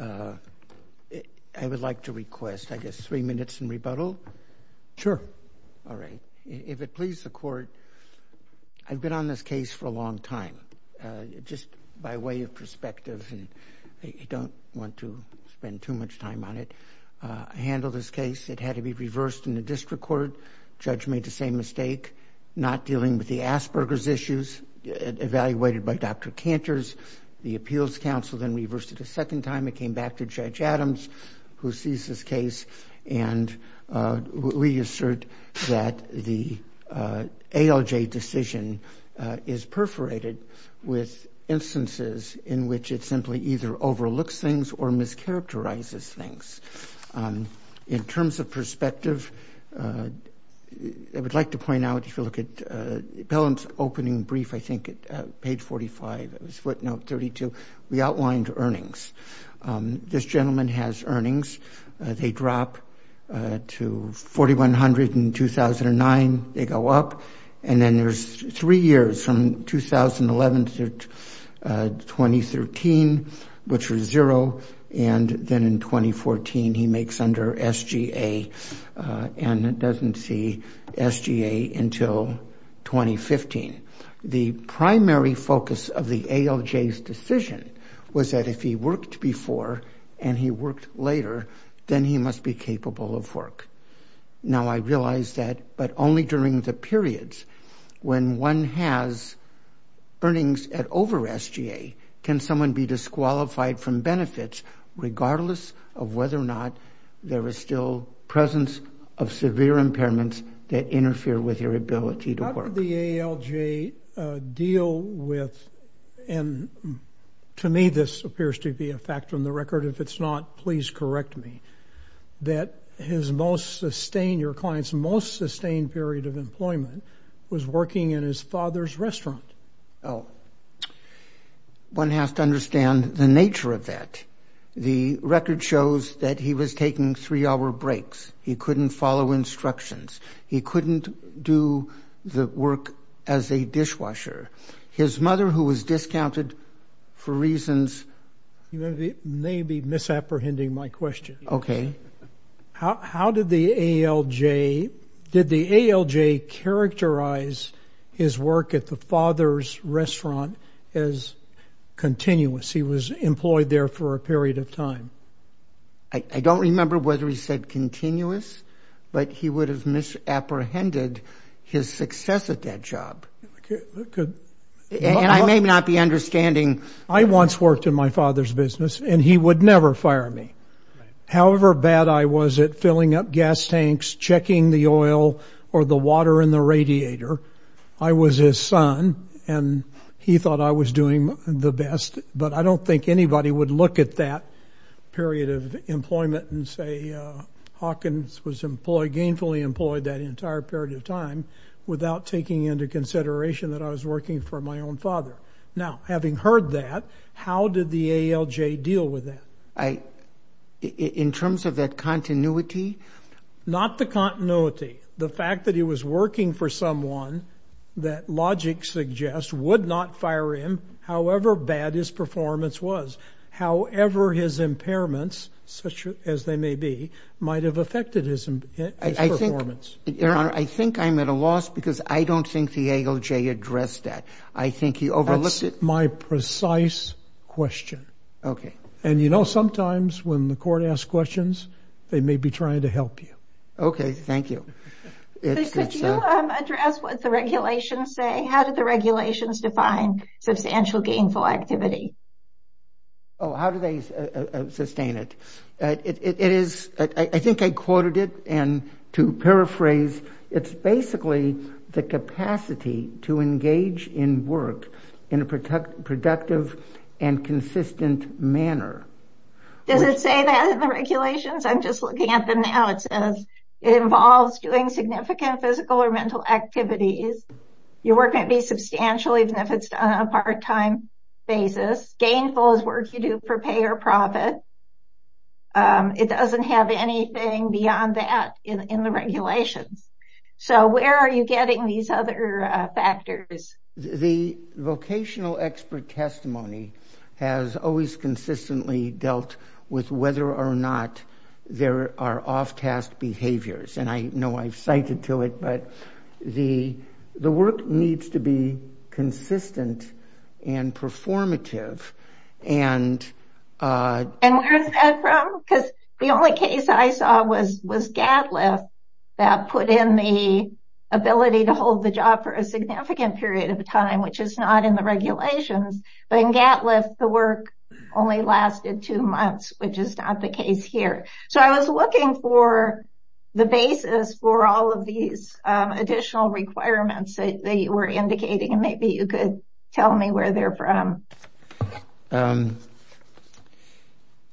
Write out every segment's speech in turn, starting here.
I would like to request, I guess, three minutes in rebuttal? Sure. All right. If it pleases the Court, I've been on this case for a long time. Just by way of perspective, and I don't want to spend too much time on it, I handled this case. It had to be reversed in the district court. Judge made the same mistake, not dealing with the Asperger's issues, evaluated by Dr. Canters. The appeals counsel then reversed it a second time and came back to Judge Adams, who sees this case, and reassert that the ALJ decision is perforated with instances in which it simply either overlooks things or mischaracterizes things. In terms of perspective, I would like to point out, if you look at Pelham's opening brief, I think at page 45, it was footnote 32, we outlined earnings. This gentleman has earnings. They drop to $4,100 in 2009, they go up, and then there's three years, from 2011 to 2013, which was zero, and then in 2014, he makes under SGA, and doesn't see SGA until 2015. The primary focus of the ALJ's decision was that if he worked before and he worked later, then he must be capable of work. Now, I realize that, but only during the periods when one has earnings at over SGA can someone be disqualified from benefits, regardless of whether or not there is still presence of severe impairments that interfere with your ability to work. How did the ALJ deal with, and to me, this appears to be a fact from the record, if it's not, please correct me, that his most sustained, your client's most sustained period of employment was working in his father's restaurant? One has to understand the nature of that. The record shows that he was taking three-hour breaks. He couldn't follow instructions. He couldn't do the work as a dishwasher. His mother, who was discounted for reasons... You may be misapprehending my question. Okay. How did the ALJ, did the ALJ characterize his work at the father's restaurant as continuous? He was employed there for a period of time. I don't remember whether he said continuous, but he would have misapprehended his success at that job. And I may not be understanding... I once worked in my father's business, and he would never fire me. However bad I was at filling up gas tanks, checking the oil, or the water in the radiator, I was his son, and he thought I was doing the best. But I don't think anybody would look at that period of employment and say, Hawkins gainfully employed that entire period of time without taking into consideration that I was working for my own father. Now, having heard that, how did the ALJ deal with that? In terms of that continuity? Not the continuity. The fact that he was working for someone that logic suggests would not fire him, however bad his performance was, however his impairments, such as they may be, might have affected his performance. Your Honor, I think I'm at a loss because I don't think the ALJ addressed that. I think he overlooked it. That's my precise question. Okay. And you know sometimes when the court asks questions, they may be trying to help you. Okay, thank you. Could you address what the regulations say? How did the regulations define substantial gainful activity? Oh, how do they sustain it? It is, I think I quoted it, and to paraphrase, it's basically the capacity to engage in work in a productive and consistent manner. Does it say that in the regulations? I'm just looking at them now. It says it involves doing significant physical or mental activities. Your work may be substantial even if it's done on a part-time basis. Gainful is work you do for pay or profit. It doesn't have anything beyond that in the regulations. So, where are you getting these other factors? The vocational expert testimony has always consistently dealt with whether or not there are off-task behaviors. And I know I've cited to it, but the work needs to be consistent and performative. And where is that from? Because the only case I saw was GATLIFT that put in the ability to hold the job for a significant period of time, which is not in the regulations. But in GATLIFT, the work only lasted two months, which is not the case here. So, I was looking for the basis for all of these additional requirements that you were indicating, and maybe you could tell me where they're from.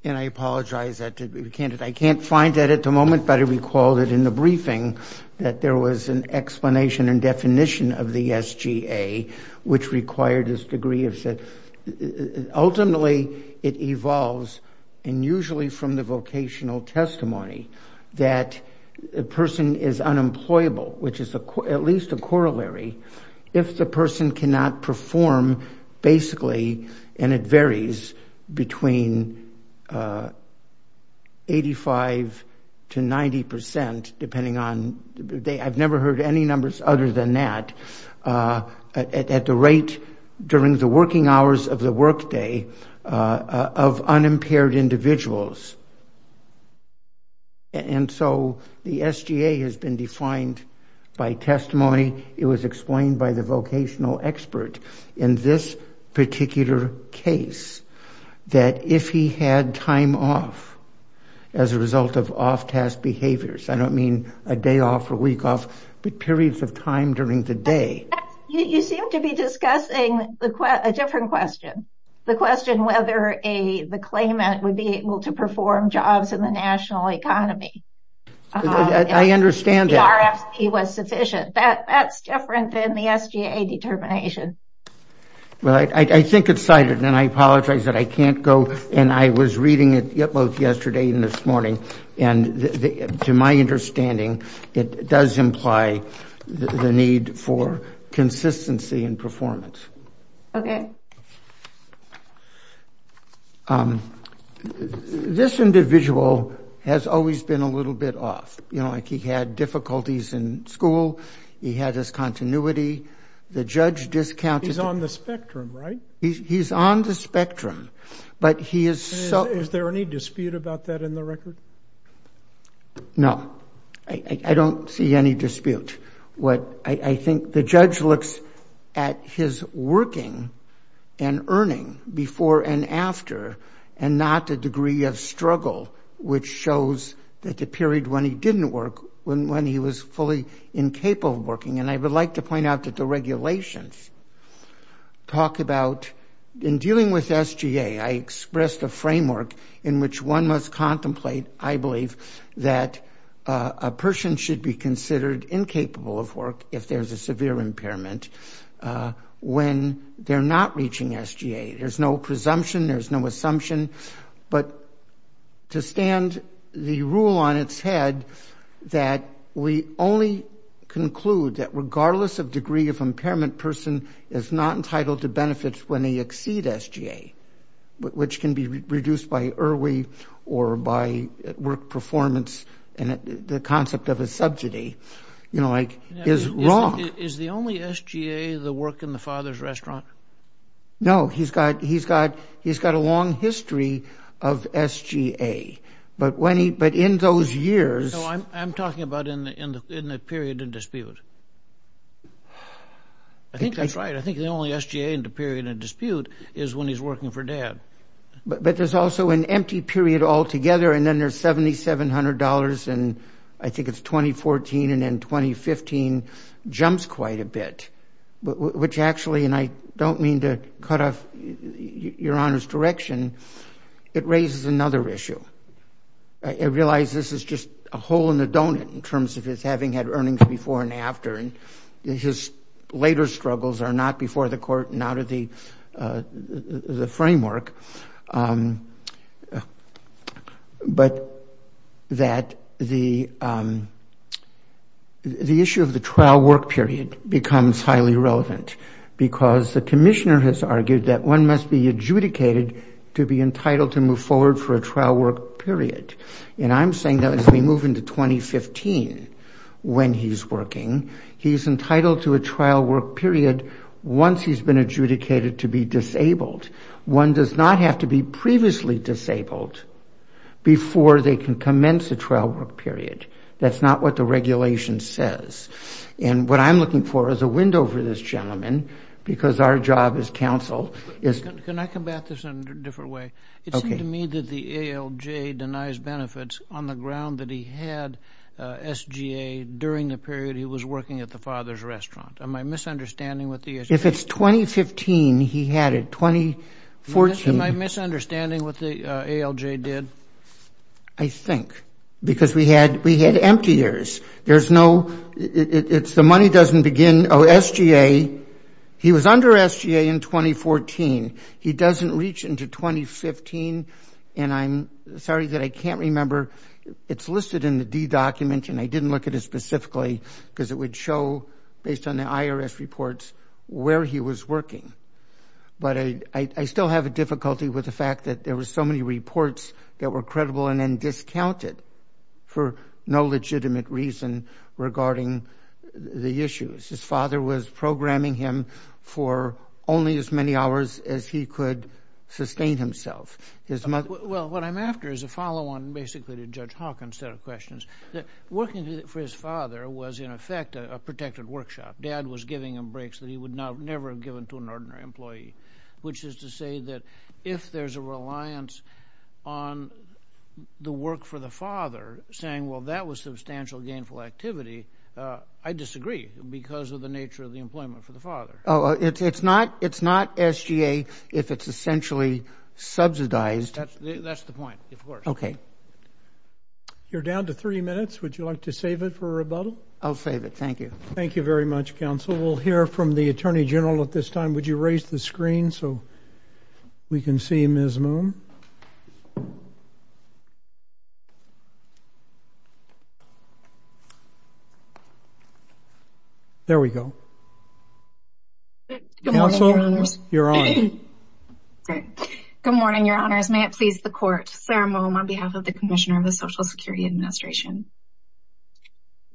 And I apologize, I can't find that at the moment, but I recall that in the briefing that there was an explanation and definition of the SGA, which required this degree of set. Ultimately, it evolves, and usually from the vocational testimony, that a person is unemployable, which is at least a corollary, if the person cannot perform, basically, and it varies between 85 to 90%, depending on, I've never heard any numbers other than that, at the rate during the working hours of the workday of unimpaired individuals. And so, the SGA has been defined by testimony, it was explained by the vocational expert in this particular case, that if he had time off as a result of off-task behaviors, I don't mean a day off or a week off, but periods of time during the day. You seem to be discussing a different question, the question whether the claimant would be able to perform jobs in the national economy. I understand that. If the PRFP was sufficient. That's different than the SGA determination. Well, I think it's cited, and I apologize that I can't go, and I was reading it yesterday and this morning, and to my understanding, it does imply the need for consistency in performance. Okay. This individual has always been a little bit off. You know, like he had difficulties in school, he had his continuity, the judge discounted... He's on the spectrum, right? He's on the spectrum, but he is... Is there any dispute about that in the record? No, I don't see any dispute. I think the judge looks at his working and earning before and after, and not the degree of struggle, which shows that the period when he didn't work, when he was fully incapable of working, and I would like to point out that the regulations talk about... In dealing with SGA, I expressed a framework in which one must contemplate, I believe, that a person should be considered incapable of work if there's a severe impairment when they're not reaching SGA. There's no presumption, there's no assumption, but to stand the rule on its head that we only conclude that regardless of degree of impairment, person is not entitled to benefits when they exceed SGA, which can be reduced by IRWE or by work performance, and the concept of a subsidy is wrong. Is the only SGA the work in the father's restaurant? No, he's got a long history of SGA, but in those years... No, I'm talking about in the period of dispute. I think that's right, I think the only SGA in the period of dispute is when he's working for dad. But there's also an empty period altogether, and then there's $7,700, and I think it's 2014, and then 2015 jumps quite a bit, which actually, and I don't mean to cut off your Honour's direction, it raises another issue. I realize this is just a hole in the donut in terms of his having had earnings before and after, and his later struggles are not before the court, not of the framework, but that the issue of the trial work period becomes highly relevant because the Commissioner has argued that one must be adjudicated to be entitled to move forward for a trial work period, and I'm saying that as we move into 2015, when he's working, he's entitled to a trial work period once he's been adjudicated to be disabled. One does not have to be previously disabled before they can commence a trial work period. That's not what the regulation says. And what I'm looking for is a window for this gentleman, because our job as counsel is... Can I come back to this in a different way? It seemed to me that the ALJ denies benefits on the ground that he had SGA during the period he was working at the father's restaurant. Am I misunderstanding what the... If it's 2015 he had it, 2014... Am I misunderstanding what the ALJ did? I think, because we had empty years. There's no... It's the money doesn't begin... Oh, SGA... He was under SGA in 2014. He doesn't reach into 2015, and I'm sorry that I can't remember... It's listed in the D document, and I didn't look at it specifically, because it would show, based on the IRS reports, where he was working. But I still have a difficulty with the fact that there were so many reports that were credible and then discounted for no legitimate reason regarding the issues. His father was programming him for only as many hours as he could sustain himself. His mother... Well, what I'm after is a follow-on, basically to Judge Hawkins' set of questions. Working for his father was, in effect, a protected workshop. Dad was giving him breaks that he would never have given to an ordinary employee, which is to say that if there's a reliance on the work for the father, saying, well, that was substantial gainful activity, I disagree, because of the nature of the employment for the father. Oh, it's not SGA if it's essentially subsidized. That's the point, of course. Okay. You're down to three minutes. Would you like to save it for rebuttal? I'll save it. Thank you. Thank you very much, Counsel. We'll hear from the Attorney General at this time. Would you raise the screen so we can see Ms. Moome? There we go. Good morning, Your Honors. May it please the Court, Sarah Moome on behalf of the Commissioner of the Social Security Administration.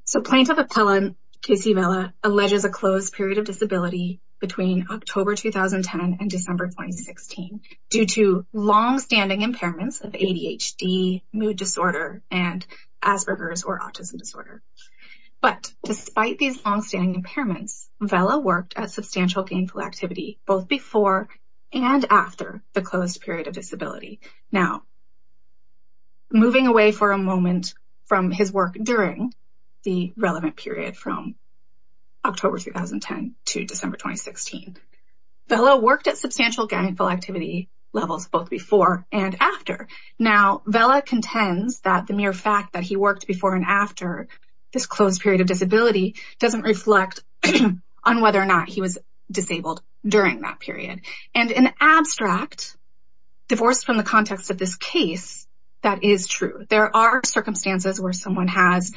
So Plaintiff Appellant Casey Vela alleges a closed period of disability between October 2010 and December 2016 due to longstanding impairments of ADHD, mood disorder, and Asperger's or autism disorder. But despite these longstanding impairments, Vela worked at substantial gainful activity both before and after the closed period of disability. Now, moving away for a moment from his work during the relevant period from October 2010 to December 2016, Vela worked at substantial gainful activity levels both before and after. Now, Vela contends that the mere fact that he worked before and after this closed period of disability doesn't reflect on whether or not he was disabled during that period. And in abstract, divorced from the context of this case, that is true. There are circumstances where someone has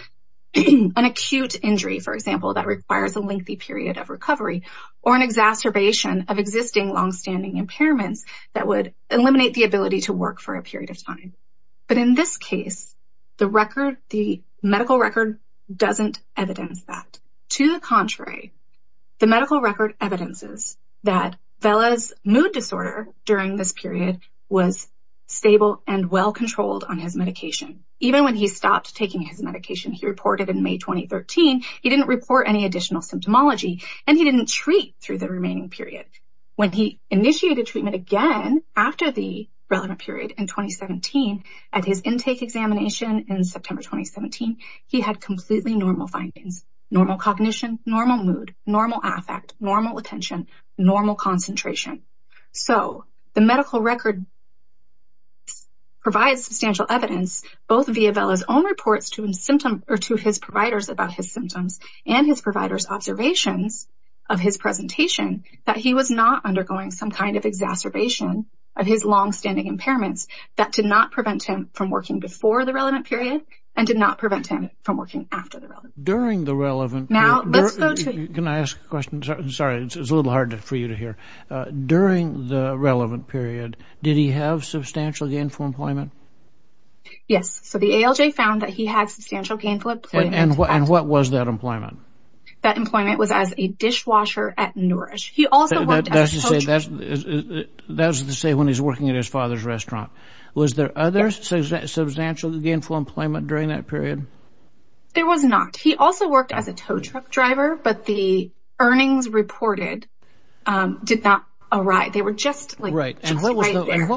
an acute injury, for example, that requires a lengthy period of recovery or an exacerbation of existing longstanding impairments that would eliminate the ability to work for a period of time. But in this case, the medical record doesn't evidence that. To the contrary, the medical record evidences that Vela's mood disorder during this period was stable and well-controlled on his medication. Even when he stopped taking his medication, he reported in May 2013, he didn't report any additional symptomology and he didn't treat through the remaining period. When he initiated treatment again after the relevant period in 2017 at his intake examination in September 2017, he had completely normal findings, normal cognition, normal mood, normal affect, normal attention, normal concentration. So the medical record provides substantial evidence, both via Vela's own reports to his symptom or to his providers about his symptoms and his providers observations of his presentation that he was not undergoing some kind of exacerbation of his longstanding impairments that did not prevent him from working before the relevant period and did not prevent him from working after the relevant. During the relevant. Now, let's go to. Can I ask a question? Sorry, it's a little hard for you to hear. During the relevant period, did he have substantial gainful employment? Yes, so the ALJ found that he had substantial gainful employment. And what was that employment? That employment was as a dishwasher at Nourish. He also worked as a coach. That's to say when he's working at his father's restaurant. Was there other substantial gainful employment during that period? There was not. He also worked as a tow truck driver, but the earnings reported did not arrive. They were just like. Right, and what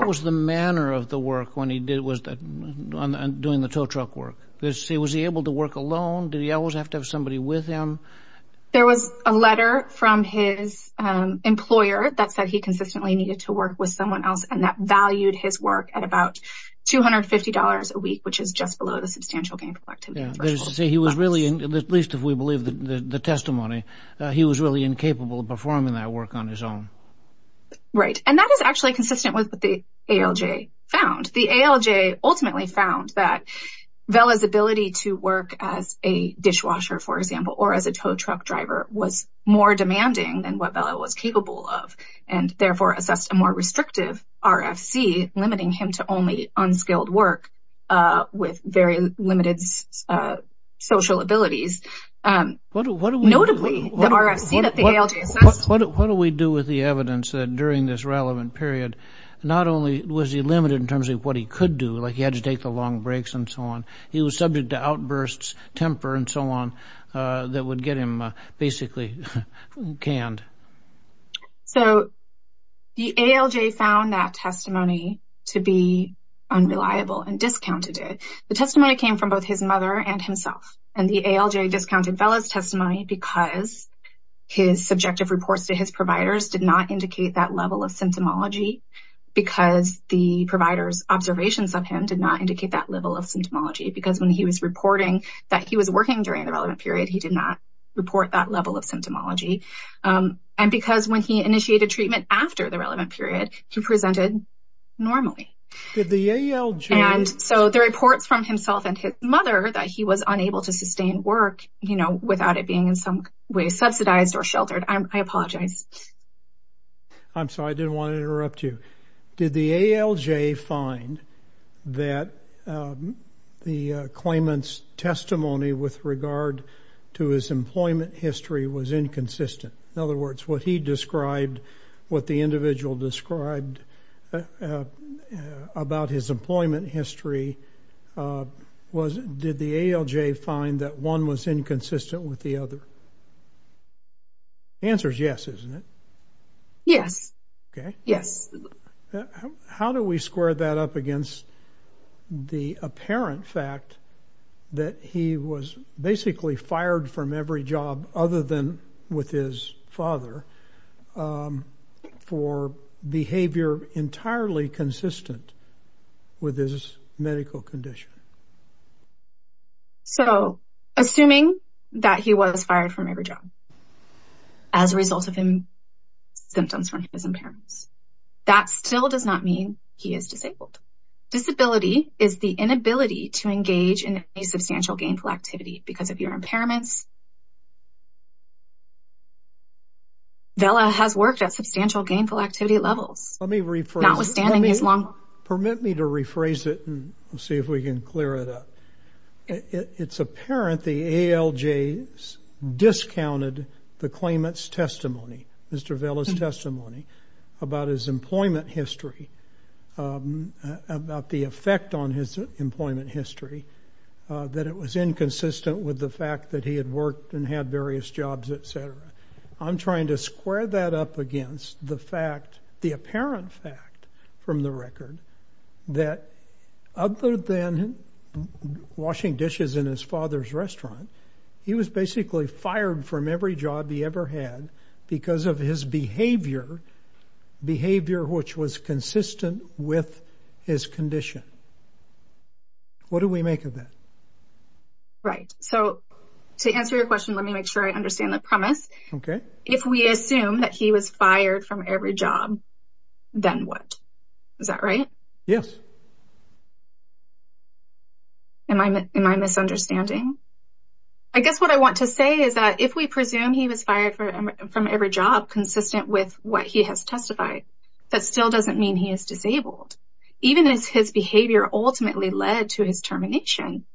was the manner of the work when he was doing the tow truck work? Was he able to work alone? Did he always have to have somebody with him? There was a letter from his employer that said he consistently needed to work with someone else and that valued his work at about $250 a week, which is just below the substantial gainful activity threshold. He was really, at least if we believe the testimony, he was really incapable of performing that work on his own. Right, and that is actually consistent with what the ALJ found. The ALJ ultimately found that Vella's ability to work as a dishwasher, for example, or as a tow truck driver was more demanding than what Vella was capable of and therefore assessed a more restrictive RFC, limiting him to only unskilled work with very limited social abilities. Notably, the RFC that the ALJ assessed. What do we do with the evidence that during this relevant period, not only was he limited in terms of what he could do, like he had to take the long breaks and so on, he was subject to outbursts, temper and so on, that would get him basically canned. So the ALJ found that testimony to be unreliable and discounted it. The testimony came from both his mother and himself. And the ALJ discounted Vella's testimony because his subjective reports to his providers did not indicate that level of symptomology because the provider's observations of him did not indicate that level of symptomology because when he was reporting that he was working during the relevant period, he did not report that level of symptomology. And because when he initiated treatment after the relevant period, he presented normally. Did the ALJ- And so the reports from himself and his mother that he was unable to sustain work without it being in some way subsidized or sheltered, I apologize. I'm sorry, I didn't want to interrupt you. Did the ALJ find that the claimant's testimony with regard to his employment history was inconsistent? In other words, what he described, what the individual described about his employment history, did the ALJ find that one was inconsistent with the other? Answer's yes, isn't it? Yes. Okay. Yes. How do we square that up against the apparent fact that he was basically fired from every job other than with his father for behavior entirely consistent with his medical condition? So assuming that he was fired from every job as a result of symptoms from his impairments, that still does not mean he is disabled. Disability is the inability to engage in any substantial gainful activity because of your impairments. Vella has worked at substantial gainful activity levels. Let me rephrase- Notwithstanding his long- Permit me to rephrase it and see if we can clear it up. It's apparent the ALJ discounted the claimant's testimony, Mr. Vella's testimony about his employment history about the effect on his employment history, that it was inconsistent with the fact that he had worked and had various jobs, et cetera. I'm trying to square that up against the fact, the apparent fact from the record that other than washing dishes in his father's restaurant, he was basically fired from every job he ever had because of his behavior, behavior which was consistent with his condition. What do we make of that? Right, so to answer your question, let me make sure I understand the premise. If we assume that he was fired from every job, then what? Is that right? Yes. Am I misunderstanding? I guess what I want to say is that if we presume he was fired from every job consistent with what he has testified, that still doesn't mean he is disabled. Even as his behavior ultimately led to his termination,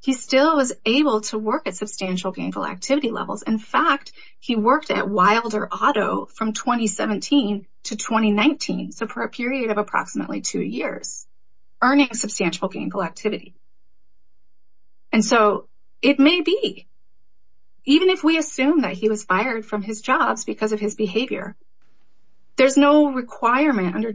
he still was able to work at substantial gangle activity levels. In fact, he worked at Wilder Auto from 2017 to 2019, so for a period of approximately two years, earning substantial gangle activity. And so it may be, even if we assume that he was fired from his jobs because of his behavior, there's no requirement under,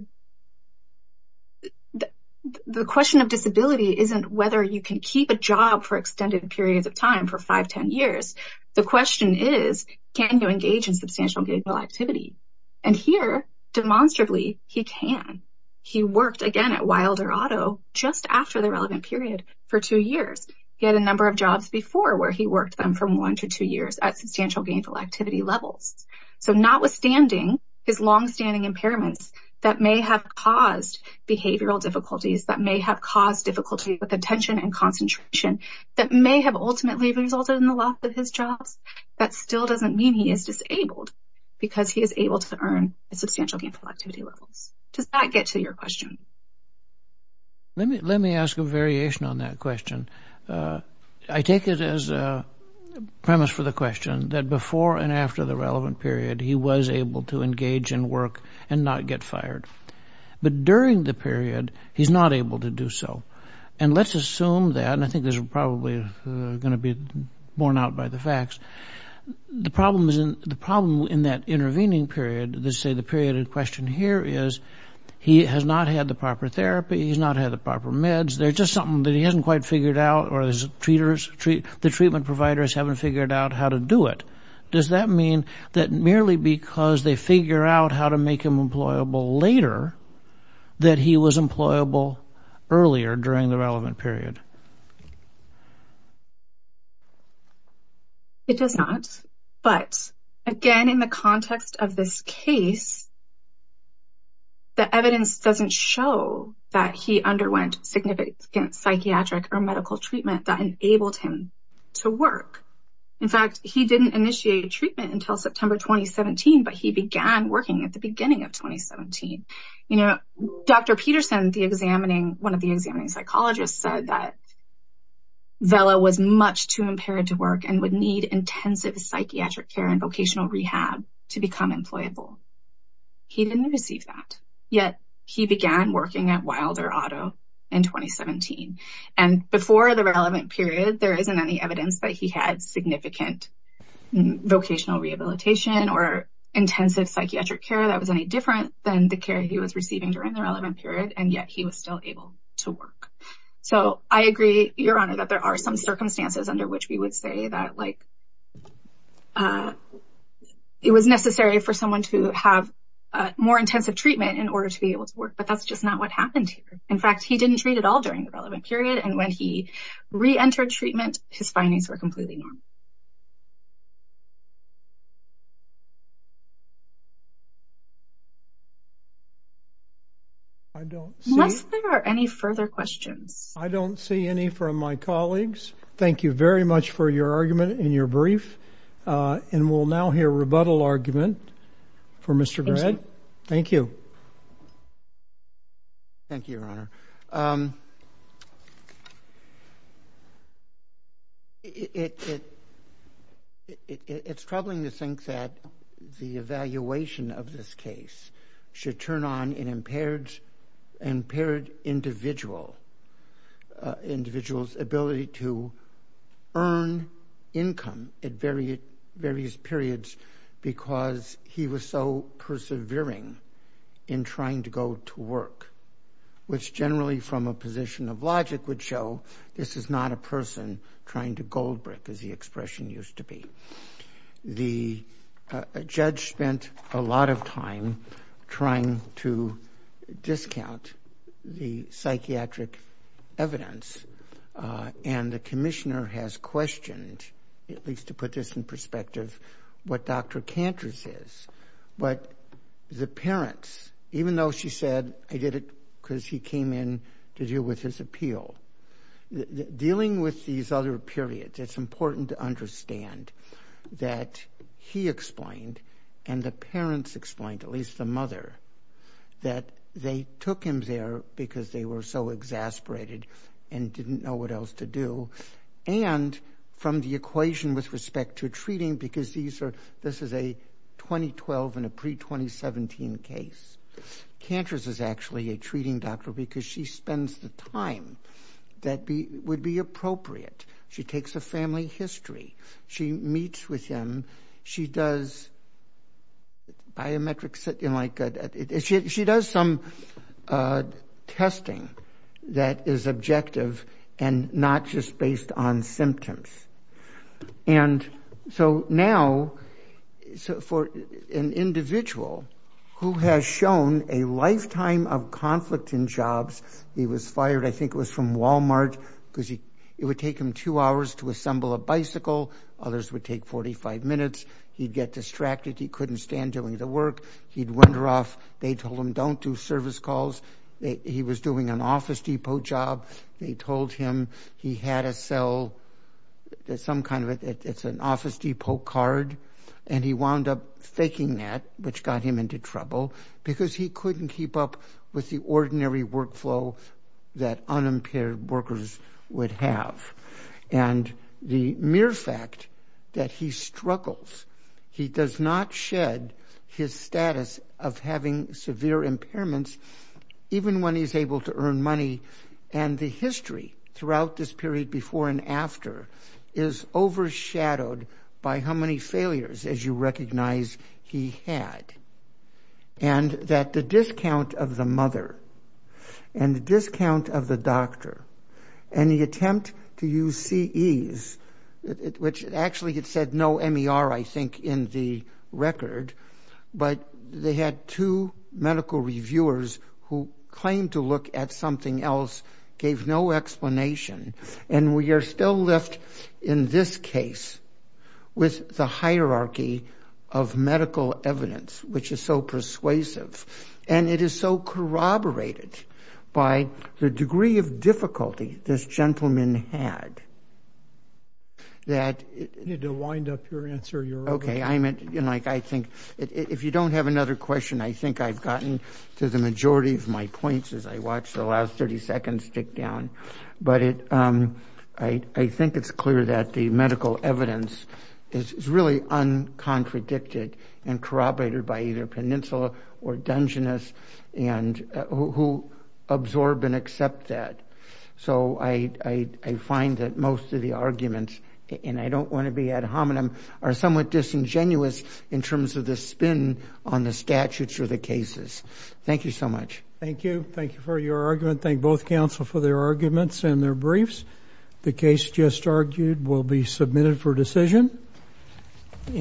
the question of disability isn't whether you can keep a job for extended periods of time for five, 10 years. The question is, can you engage in substantial gangle activity? And here, demonstrably, he can. He worked again at Wilder Auto just after the relevant period for two years. He had a number of jobs before where he worked them from one to two years at substantial gangle activity levels. So notwithstanding his longstanding impairments that may have caused behavioral difficulties, that may have caused difficulty with attention and concentration, that may have ultimately resulted in the loss of his jobs, that still doesn't mean he is disabled because he is able to earn substantial gangle activity levels. Does that get to your question? Let me ask a variation on that question. I take it as a premise for the question that before and after the relevant period, he was able to engage in work and not get fired. But during the period, he's not able to do so. And let's assume that, and I think this is probably going to be borne out by the facts, the problem in that intervening period, let's say the period in question here is, he has not had the proper therapy, he's not had the proper meds, there's just something that he hasn't quite figured out or the treatment providers haven't figured out how to do it. Does that mean that merely because they figure out how to make him employable later, that he was employable earlier during the relevant period? It does not. But again, in the context of this case, the evidence doesn't show that he underwent significant psychiatric or medical treatment that enabled him to work. In fact, he didn't initiate treatment until September 2017, but he began working at the beginning of 2017. Dr. Peterson, one of the examining psychologists said that Vella was much too impaired to work and would need intensive psychiatric care and vocational rehab to become employable. He didn't receive that, yet he began working at Wilder Auto in 2017. And before the relevant period, there isn't any evidence that he had significant vocational rehabilitation or intensive psychiatric care that was any different than the care he was receiving during the relevant period, and yet he was still able to work. So I agree, Your Honor, that there are some circumstances under which we would say that it was necessary for someone to have more intensive treatment in order to be able to work, but that's just not what happened here. In fact, he didn't treat at all during the relevant period, and when he re-entered treatment, his findings were completely normal. I don't see- Unless there are any further questions. I don't see any from my colleagues. Thank you very much for your argument and your brief. And we'll now hear rebuttal argument for Mr. Grad. Thank you. Thank you, Your Honor. It's troubling to think that the evaluation of this case should turn on an impaired individual's ability to earn income at various periods because he was so persevering in trying to go to work, which generally from a position of logic would show this is not a person trying to gold-brick, as the expression used to be. The judge spent a lot of time trying to discount the psychiatric evidence and the commissioner has questioned, at least to put this in perspective, what Dr. Cantor says. But the parents, even though she said, I did it because he came in to deal with his appeal. Dealing with these other periods, it's important to understand that he explained and the parents explained, at least the mother, that they took him there because they were so exasperated and didn't know what else to do. And from the equation with respect to treating, because this is a 2012 and a pre-2017 case, Cantor's is actually a treating doctor because she spends the time that would be appropriate. She takes a family history. She meets with him. She does biometrics, she does some testing that is objective and not just based on symptoms. And so now, for an individual who has shown a lifetime of conflict in jobs, he was fired, I think it was from Walmart, because it would take him two hours to assemble a bicycle. Others would take 45 minutes. He'd get distracted. He couldn't stand doing the work. He'd wander off. They told him, don't do service calls. He was doing an Office Depot job. They told him he had a cell, some kind of it. It's an Office Depot card. And he wound up faking that, which got him into trouble, because he couldn't keep up with the ordinary workflow that unimpaired workers would have. And the mere fact that he struggles, he does not shed his status of having severe impairments even when he's able to earn money. And the history throughout this period before and after is overshadowed by how many failures, as you recognize, he had. And that the discount of the mother and the discount of the doctor and the attempt to use CEs, which actually it said no MER, I think, in the record, but they had two medical reviewers who claimed to look at something else, gave no explanation. And we are still left in this case with the hierarchy of medical evidence, which is so persuasive. And it is so corroborated by the degree of difficulty this gentleman had that it- If you don't have another question, I think I've gotten to the majority of my points as I watched the last 30 seconds tick down. But I think it's clear that the medical evidence is really uncontradicted and corroborated by either Peninsula or Dungeness and who absorb and accept that. So I find that most of the arguments, and I don't want to be ad hominem, are somewhat disingenuous in terms of the spin on the statutes or the cases. Thank you so much. Thank you. Thank you for your argument. Thank both counsel for their arguments and their briefs. The case just argued will be submitted for decision.